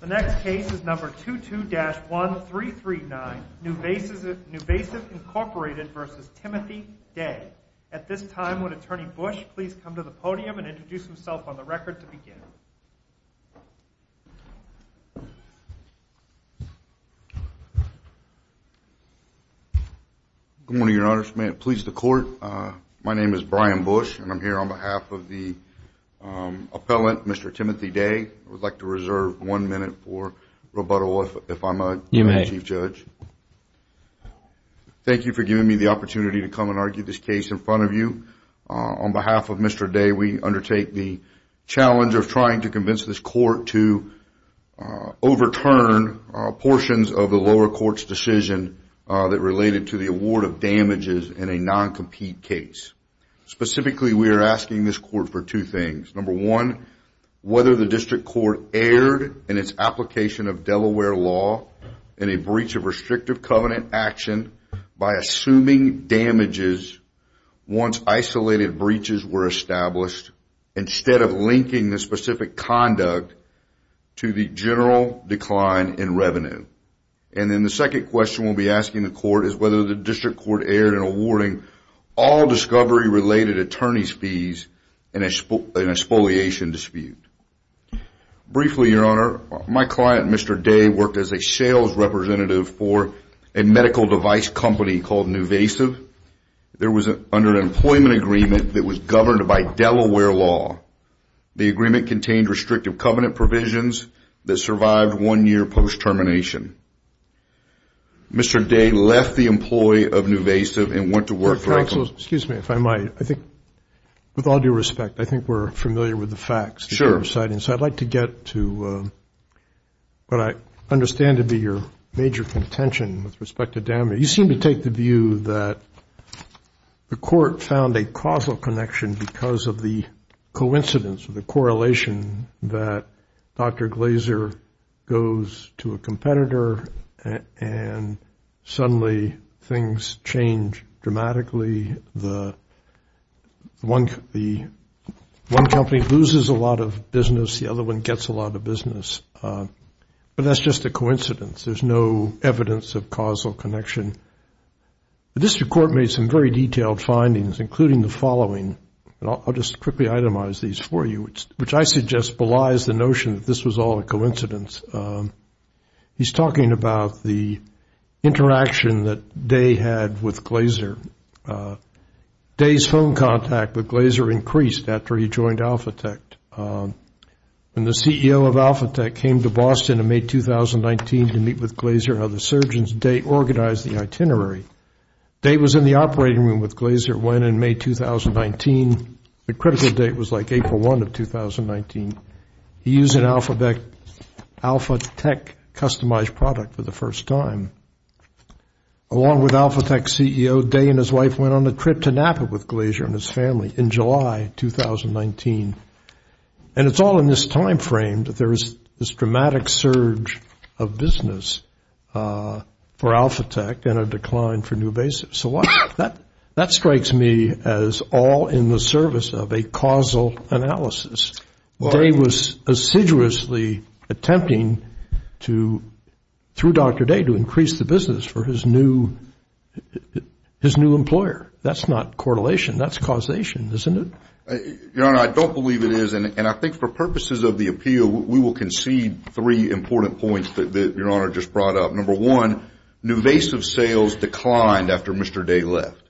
The next case is No. 22-1339, NuVasive, Inc. v. Timothy Day. At this time, would Attorney Bush please come to the podium and introduce himself on the record to begin? Good morning, Your Honor. May it please the Court, my name is Brian Bush, and I'm here on behalf of the appellant, Mr. Timothy Day. I would like to reserve one minute for rebuttal if I'm a Chief Judge. Thank you for giving me the opportunity to come and argue this case in front of you. On behalf of Mr. Day, we undertake the challenge of trying to convince this Court to overturn portions of the lower court's decision that related to the award of damages in a non-compete case. Specifically, we are asking this Court for two things. Number one, whether the District Court erred in its application of Delaware law in a breach of restrictive covenant action by assuming damages once isolated breaches were established instead of linking the specific conduct to the general decline in revenue. And then the second question we'll be asking the Court is whether the District Court erred in awarding all discovery-related attorney's fees in an exfoliation dispute. Briefly, Your Honor, my client, Mr. Day, worked as a sales representative for a medical device company called Nuvasiv. There was an underemployment agreement that was governed by Delaware law. The agreement contained restrictive covenant provisions that survived one year post-termination. Mr. Day left the employee of Nuvasiv and went to work for a company. Excuse me, if I might. I think, with all due respect, I think we're familiar with the facts. Sure. I'd like to get to what I understand to be your major contention with respect to damage. You seem to take the view that the Court found a causal connection because of the coincidence or the correlation that Dr. Glazer goes to a competitor and suddenly things change dramatically. One company loses a lot of business, the other one gets a lot of business, but that's just a coincidence. There's no evidence of causal connection. The District Court made some very detailed findings, including the following, and I'll just quickly itemize these for you, which I suggest belies the notion that this was all a coincidence. He's talking about the interaction that Day had with Glazer. Day's phone contact with Glazer increased after he joined Alphatect. When the CEO of Alphatect came to Boston in May 2019 to meet with Glazer and other surgeons, Day organized the itinerary. Day was in the operating room with Glazer when, in May 2019, the critical date was like April 1 of 2019, he used an Alphatect customized product for the first time. Along with Alphatect's CEO, Day and his wife went on a trip to Napa with Glazer and his family in July 2019. And it's all in this time frame that there is this dramatic surge of business for Alphatect and a decline for Nuvasiv. So that strikes me as all in the service of a causal analysis. Day was assiduously attempting, through Dr. Day, to increase the business for his new employer. That's not correlation, that's causation, isn't it? Your Honor, I don't believe it is, and I think for purposes of the appeal, we will concede three important points that Your Honor just brought up. Number one, Nuvasiv's sales declined after Mr. Day left.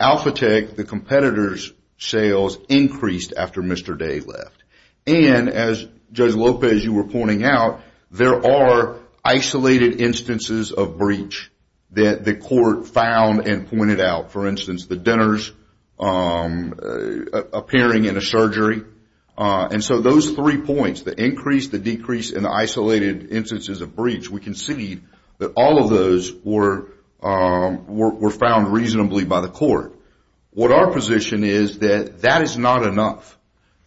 Alphatect, the competitor's sales increased after Mr. Day left. And as Judge Lopez, you were pointing out, there are isolated instances of breach that the court found and pointed out. For instance, the dinners appearing in a surgery. And so those three points, the increase, the decrease, and the isolated instances of breach, we concede that all of those were found reasonably by the court. What our position is that that is not enough,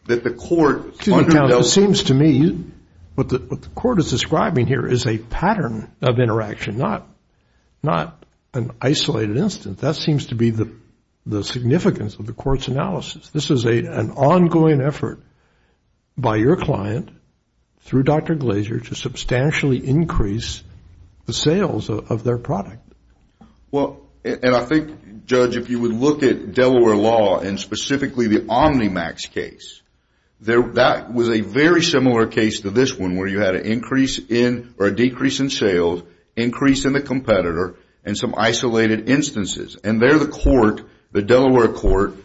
that the court underdoes... Excuse me, counsel. It seems to me what the court is describing here is a pattern of interaction, not an isolated instance. That seems to be the significance of the court's analysis. This is an ongoing effort by your client, through Dr. Glaser, to substantially increase the sales of their product. Well, and I think, Judge, if you would look at Delaware law and specifically the Omnimax case, that was a very similar case to this one where you had an increase in or a decrease in sales, increase in the competitor, and some isolated instances. And there the court, the Delaware court,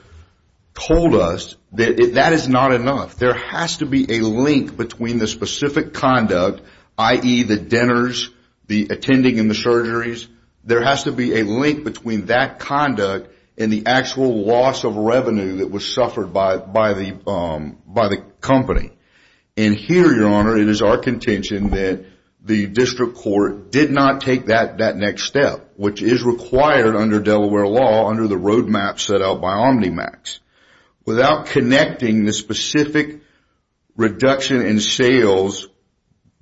told us that that is not enough. There has to be a link between the specific conduct, i.e., the dinners, the attending in the surgeries. There has to be a link between that conduct and the actual loss of revenue that was suffered by the company. And here, your honor, it is our contention that the district court did not take that next step, which is required under Delaware law under the roadmap set out by Omnimax. Without connecting the specific reduction in sales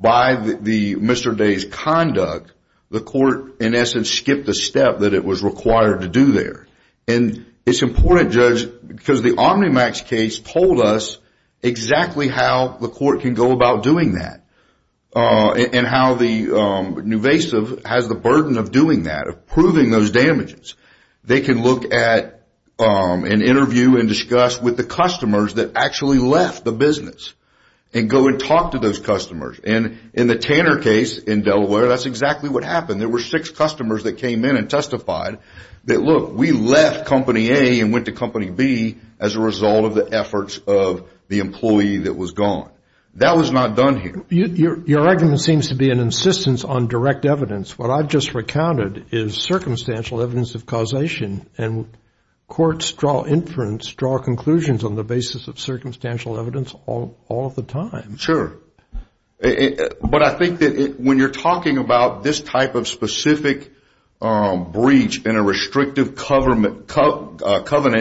by the Mr. Day's conduct, the court, in essence, skipped the step that it was required to do there. And it's important, Judge, because the Omnimax case told us exactly how the court can go about doing that and how the nuvasive has the burden of doing that, of proving those damages. They can look at an interview and discuss with the customers that actually left the business and go and talk to those customers. And in the Tanner case in Delaware, that's exactly what happened. There were six customers that came in and testified that, look, we left company A and went to company B as a result of the efforts of the employee that was gone. That was not done here. Your argument seems to be an insistence on direct evidence. What I've just recounted is circumstantial evidence of causation, and courts draw inference, draw conclusions on the basis of circumstantial evidence all of the time. Sure. But I think that when you're talking about this type of specific breach in a restrictive covenant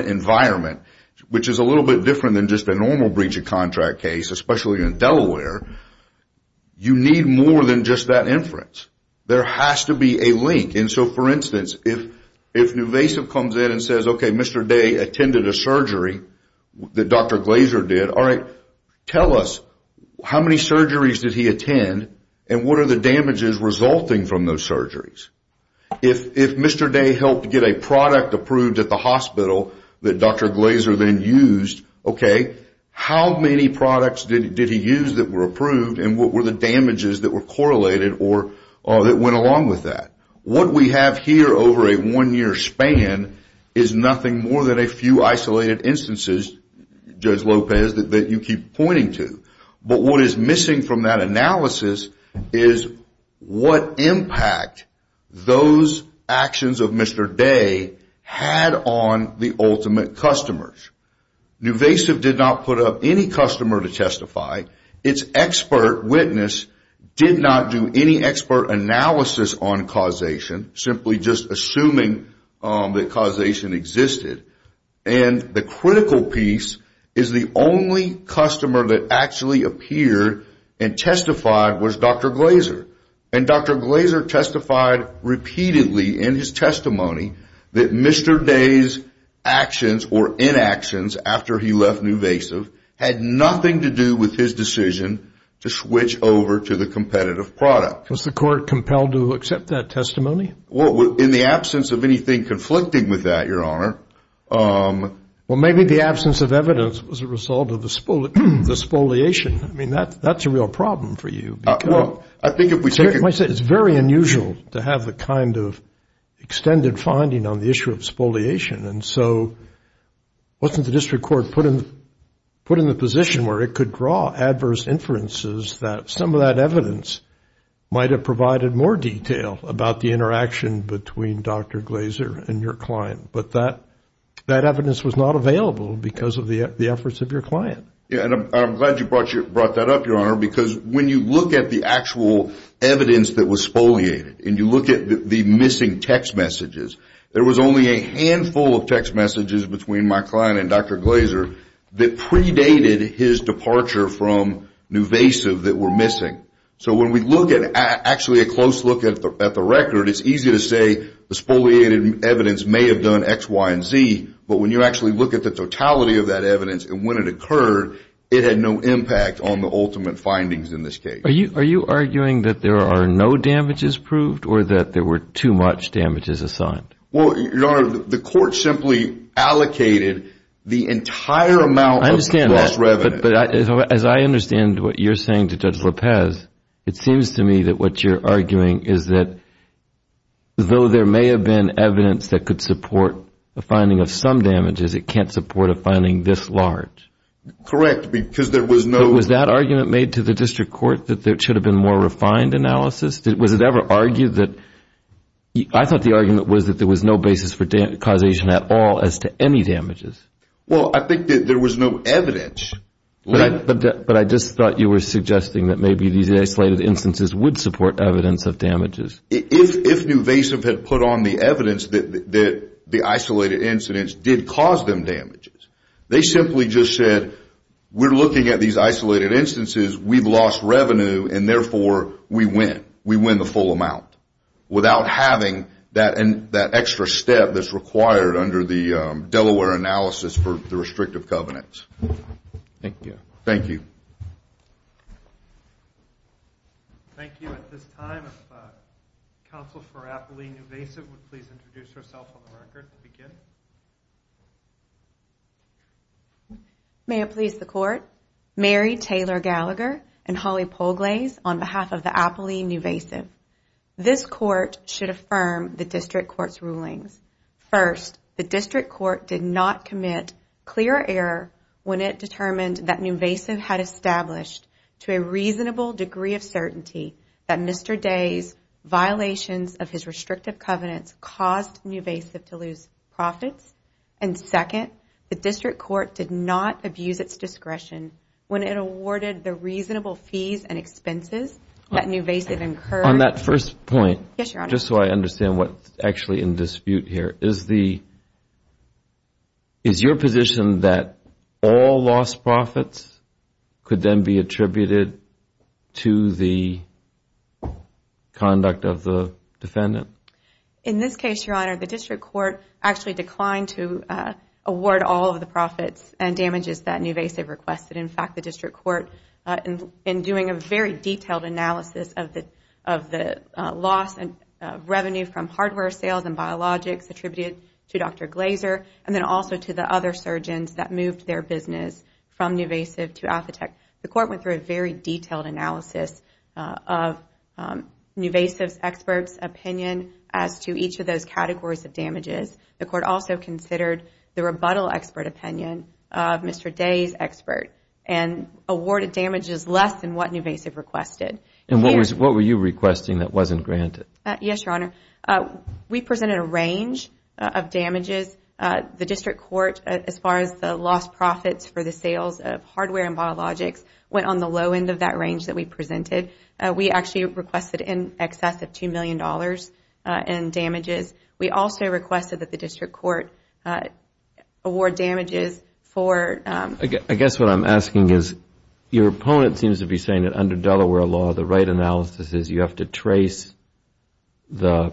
environment, which is a little bit different than just a normal breach of contract case, especially in Delaware, you need more than just that inference. There has to be a link. And so, for instance, if nuvasive comes in and says, okay, Mr. Day attended a surgery that Dr. Glazer did, all right, tell us how many surgeries did he attend and what are the damages resulting from those surgeries? If Mr. Day helped get a product approved at the hospital that Dr. Glazer then used, okay, how many products did he use that were approved and what were the damages that were correlated or that went along with that? What we have here over a one-year span is nothing more than a few isolated instances, Judge Lopez, that you keep pointing to. But what is missing from that analysis is what impact those actions of Mr. Day had on the ultimate customers. Nuvasiv did not put up any customer to testify. Its expert witness did not do any expert analysis on causation, simply just assuming that causation existed. And the critical piece is the only customer that actually appeared and testified was Dr. Glazer. And Dr. Glazer testified repeatedly in his testimony that Mr. Day's actions or inactions after he left Nuvasiv had nothing to do with his decision to switch over to the competitive product. Was the court compelled to accept that testimony? In the absence of anything conflicting with that, Your Honor. Well maybe the absence of evidence was a result of the spoliation, I mean that's a real problem for you. Well, I think if we take a look. It's very unusual to have the kind of extended finding on the issue of spoliation. And so wasn't the district court put in the position where it could draw adverse inferences that some of that evidence might have provided more detail about the interaction between Dr. Glazer and your client. But that evidence was not available because of the efforts of your client. And I'm glad you brought that up, Your Honor, because when you look at the actual evidence that was spoliated and you look at the missing text messages. There was only a handful of text messages between my client and Dr. Glazer that predated his departure from Nuvasiv that were missing. So when we look at, actually a close look at the record, it's easy to say the spoliated evidence may have done X, Y, and Z, but when you actually look at the totality of that record, it had no impact on the ultimate findings in this case. Are you arguing that there are no damages proved or that there were too much damages assigned? Well, Your Honor, the court simply allocated the entire amount of the cost revenue. I understand that, but as I understand what you're saying to Judge Lopez, it seems to me that what you're arguing is that though there may have been evidence that could support the finding of some damages, it can't support a finding this large. Correct. Because there was no... But was that argument made to the district court that there should have been more refined analysis? Was it ever argued that... I thought the argument was that there was no basis for causation at all as to any damages. Well, I think that there was no evidence. But I just thought you were suggesting that maybe these isolated instances would support evidence of damages. If Nuvasiv had put on the evidence that the isolated incidents did cause them damages, they simply just said, we're looking at these isolated instances, we've lost revenue, and therefore we win. We win the full amount without having that extra step that's required under the Delaware analysis for the restrictive covenants. Thank you. Thank you. Thank you. At this time, if Counsel for Apolline Nuvasiv would please introduce herself on the record to begin. Thank you. May it please the court, Mary Taylor Gallagher and Holly Polglaes on behalf of the Apolline Nuvasiv. This court should affirm the district court's rulings. First, the district court did not commit clear error when it determined that Nuvasiv had established to a reasonable degree of certainty that Mr. Day's violations of his restrictive covenants caused Nuvasiv to lose profits. And second, the district court did not abuse its discretion when it awarded the reasonable fees and expenses that Nuvasiv incurred. On that first point, just so I understand what's actually in dispute here, is your position that all lost profits could then be attributed to the conduct of the defendant? In this case, Your Honor, the district court actually declined to award all of the profits and damages that Nuvasiv requested. In fact, the district court, in doing a very detailed analysis of the loss of revenue from covenants that moved their business from Nuvasiv to Athetek, the court went through a very detailed analysis of Nuvasiv's expert's opinion as to each of those categories of damages. The court also considered the rebuttal expert opinion of Mr. Day's expert and awarded damages less than what Nuvasiv requested. And what were you requesting that wasn't granted? Yes, Your Honor. We presented a range of damages. The district court, as far as the lost profits for the sales of hardware and biologics, went on the low end of that range that we presented. We actually requested in excess of $2 million in damages. We also requested that the district court award damages for I guess what I'm asking is, your opponent seems to be saying that under Delaware law, the right analysis is you have to trace the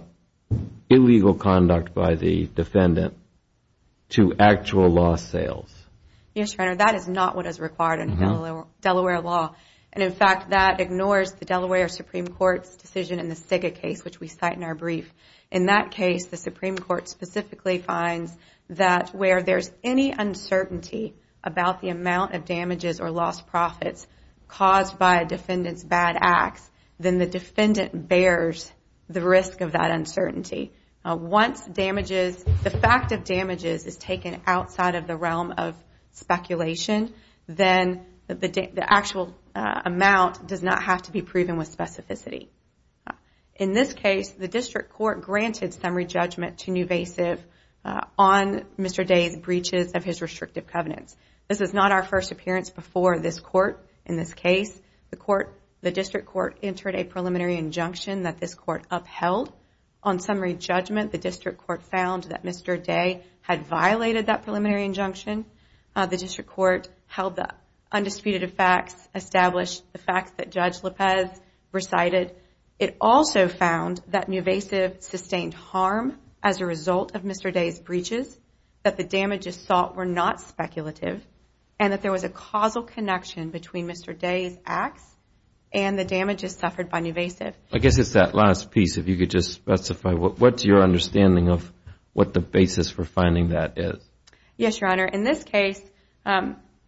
illegal conduct by the defendant to actual loss sales. Yes, Your Honor. That is not what is required under Delaware law. And in fact, that ignores the Delaware Supreme Court's decision in the SIGA case, which we cite in our brief. In that case, the Supreme Court specifically finds that where there's any uncertainty about the amount of damages or lost profits caused by a defendant's bad acts, then the defendant bears the risk of that uncertainty. Once the fact of damages is taken outside of the realm of speculation, then the actual amount does not have to be proven with specificity. In this case, the district court granted summary judgment to Nuvasiv on Mr. Day's breaches of his restrictive covenants. This is not our first appearance before this court. In this case, the district court entered a preliminary injunction that this court upheld. On summary judgment, the district court found that Mr. Day had violated that preliminary injunction. The district court held the undisputed facts, established the facts that Judge Lopez recited. It also found that Nuvasiv sustained harm as a result of Mr. Day's breaches, that the there was a causal connection between Mr. Day's acts and the damages suffered by Nuvasiv. I guess it's that last piece, if you could just specify, what's your understanding of what the basis for finding that is? Yes, Your Honor. In this case,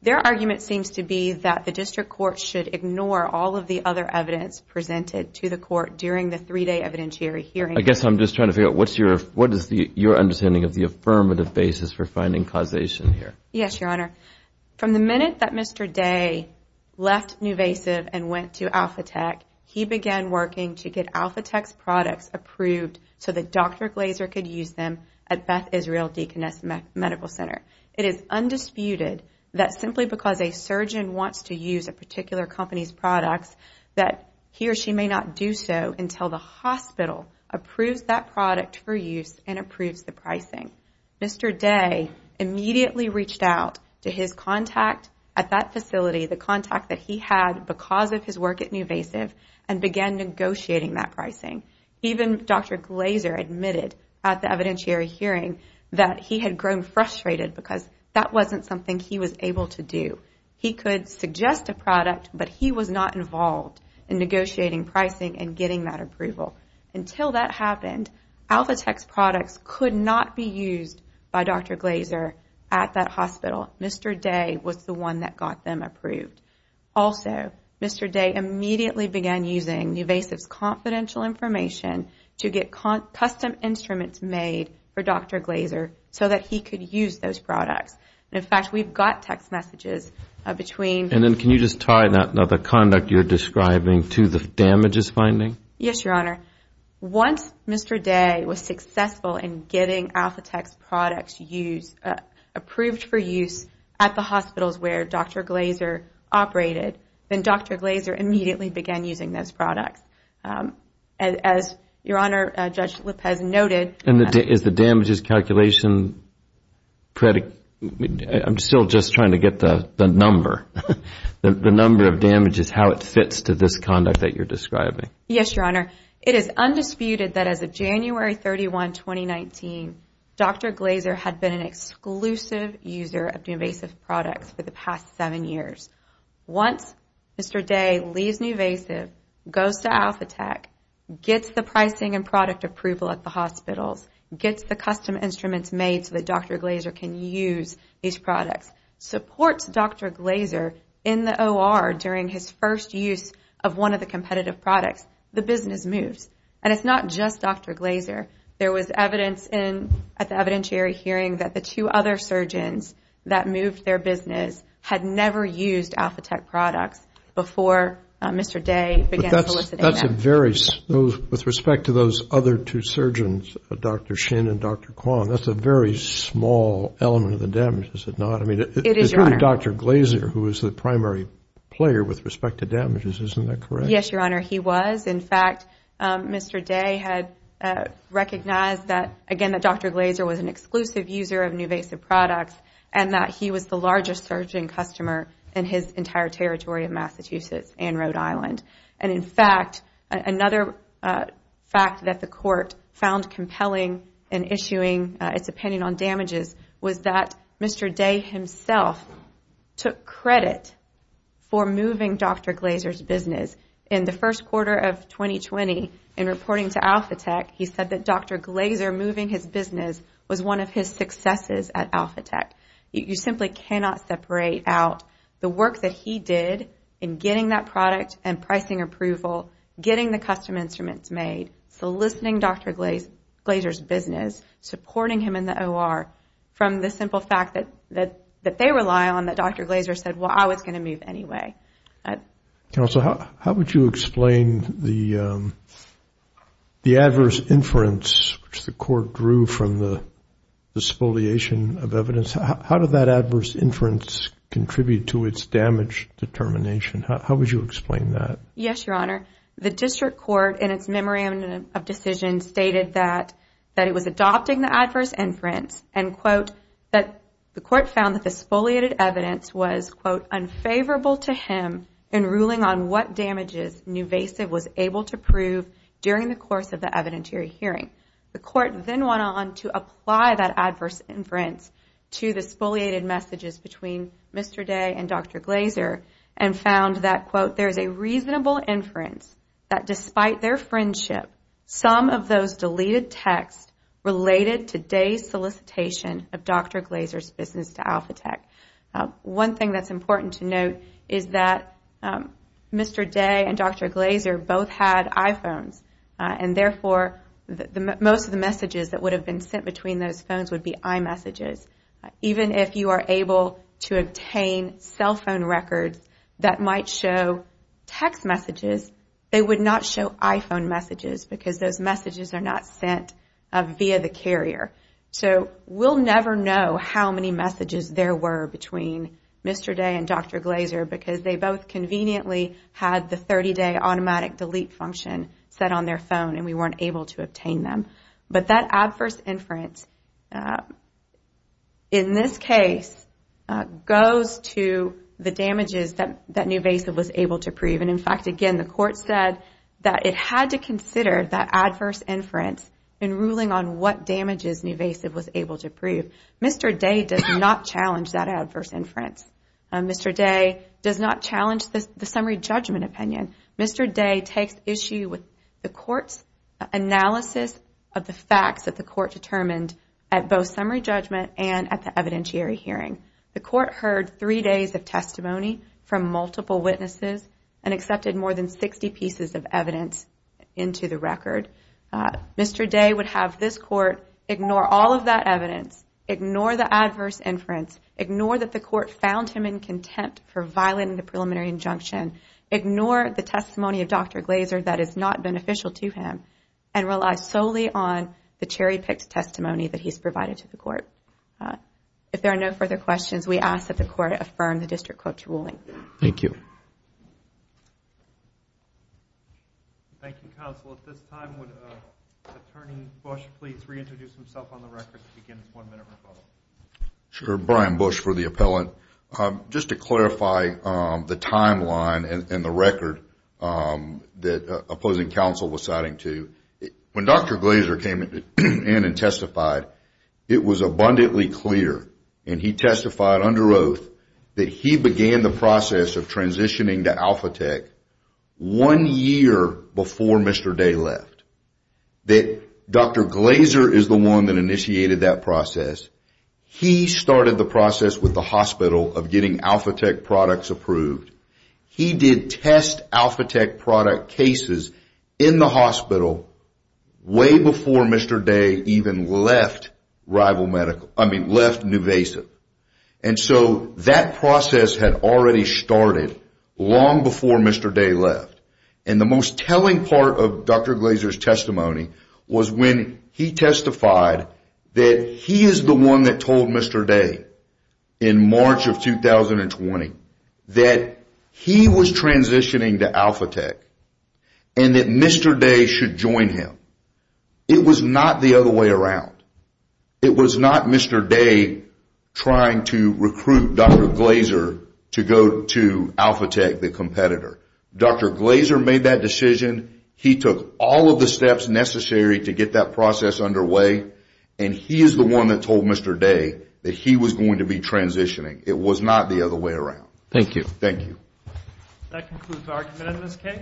their argument seems to be that the district court should ignore all of the other evidence presented to the court during the three-day evidentiary hearing. I guess I'm just trying to figure out, what is your understanding of the affirmative basis for finding causation here? Yes, Your Honor. From the minute that Mr. Day left Nuvasiv and went to Alphatech, he began working to get Alphatech's products approved so that Dr. Glazer could use them at Beth Israel Deaconess Medical Center. It is undisputed that simply because a surgeon wants to use a particular company's products, that he or she may not do so until the hospital approves that product for use and approves the pricing. Mr. Day immediately reached out to his contact at that facility, the contact that he had because of his work at Nuvasiv, and began negotiating that pricing. Even Dr. Glazer admitted at the evidentiary hearing that he had grown frustrated because that wasn't something he was able to do. He could suggest a product, but he was not involved in negotiating pricing and getting that approval. Until that happened, Alphatech's products could not be used by Dr. Glazer at that hospital. Mr. Day was the one that got them approved. Also, Mr. Day immediately began using Nuvasiv's confidential information to get custom instruments made for Dr. Glazer so that he could use those products. In fact, we've got text messages between... And then can you just tie that, the conduct you're describing, to the damages finding? Yes, Your Honor. Once Mr. Day was successful in getting Alphatech's products approved for use at the hospitals where Dr. Glazer operated, then Dr. Glazer immediately began using those products. As Your Honor, Judge Lopez noted... And is the damages calculation... I'm still just trying to get the number. The number of damages, how it fits to this conduct that you're describing. Yes, Your Honor. It is undisputed that as of January 31, 2019, Dr. Glazer had been an exclusive user of Nuvasiv products for the past seven years. Once Mr. Day leaves Nuvasiv, goes to Alphatech, gets the pricing and product approval at the hospitals, gets the custom instruments made so that Dr. Glazer can use these products, supports Dr. Glazer in the OR during his first use of one of the competitive products, the business moves. And it's not just Dr. Glazer. There was evidence at the evidentiary hearing that the two other surgeons that moved their business had never used Alphatech products before Mr. Day began soliciting them. With respect to those other two surgeons, Dr. Shin and Dr. Kwon, that's a very small element of the damage, is it not? It is, Your Honor. It's really Dr. Glazer who is the primary player with respect to damages, isn't that correct? Yes, Your Honor. He was. In fact, Mr. Day had recognized that, again, that Dr. Glazer was an exclusive user of Nuvasiv products and that he was the largest surgeon customer in his entire territory of Massachusetts and Rhode Island. Mr. Day himself took credit for moving Dr. Glazer's business. In the first quarter of 2020, in reporting to Alphatech, he said that Dr. Glazer moving his business was one of his successes at Alphatech. You simply cannot separate out the work that he did in getting that product and pricing approval, getting the custom instruments made, soliciting Dr. Glazer's business, supporting him in the OR, from the simple fact that they rely on, that Dr. Glazer said, well, I was going to move anyway. Counsel, how would you explain the adverse inference which the court drew from the despoliation of evidence? How did that adverse inference contribute to its damage determination? How would you explain that? Yes, Your Honor. The district court, in its memorandum of decision, stated that it was adopting the adverse inference and that the court found that the spoliated evidence was unfavorable to him in ruling on what damages Nuvasiv was able to prove during the course of the evidentiary hearing. The court then went on to apply that adverse inference to the spoliated messages between Mr. Day and Dr. Glazer and found that, quote, there is a reasonable inference that despite their friendship, some of those deleted texts related to Day's solicitation of Dr. Glazer's business to Alphatech. One thing that's important to note is that Mr. Day and Dr. Glazer both had iPhones and therefore most of the messages that would have been sent between those phones would be iMessages. Even if you are able to obtain cell phone records that might show text messages, they would not show iPhone messages because those messages are not sent via the carrier. So we'll never know how many messages there were between Mr. Day and Dr. Glazer because they both conveniently had the 30-day automatic delete function set on their phone and we weren't able to obtain them. But that adverse inference, in this case, goes to the damages that Nuvasiv was able to prove. In fact, again, the court said that it had to consider that adverse inference in ruling on what damages Nuvasiv was able to prove. Mr. Day does not challenge that adverse inference. Mr. Day does not challenge the summary judgment opinion. Mr. Day takes issue with the court's analysis of the facts that the court determined at both summary judgment and at the evidentiary hearing. The court heard three days of testimony from multiple witnesses and accepted more than 60 pieces of evidence into the record. Mr. Day would have this court ignore all of that evidence, ignore the adverse inference, ignore that the court found him in contempt for violating the preliminary injunction, ignore the testimony of Dr. Glazer that is not beneficial to him, and rely solely on the cherry-picked testimony that he's provided to the court. If there are no further questions, we ask that the court affirm the district court's ruling. Thank you. Thank you, counsel. At this time, would Attorney Bush please reintroduce himself on the record to begin his one-minute rebuttal? Sure. Brian Bush for the appellant. Just to clarify the timeline and the record that opposing counsel was citing to, when Dr. Glazer came in and testified, it was abundantly clear, and he testified under oath, that he began the process of transitioning to AlphaTec one year before Mr. Day left, that Dr. Glazer is the one that initiated that process. He started the process with the hospital of getting AlphaTec products approved. He did test AlphaTec product cases in the hospital way before Mr. Day even left NuVasa. And so that process had already started long before Mr. Day left. The most telling part of Dr. Glazer's testimony was when he testified that he is the one that told Mr. Day in March of 2020 that he was transitioning to AlphaTec and that Mr. Day should join him. It was not the other way around. It was not Mr. Day trying to recruit Dr. Glazer to go to AlphaTec, the competitor. Dr. Glazer made that decision. He took all of the steps necessary to get that process underway. And he is the one that told Mr. Day that he was going to be transitioning. It was not the other way around. Thank you. Thank you. That concludes argument in this case.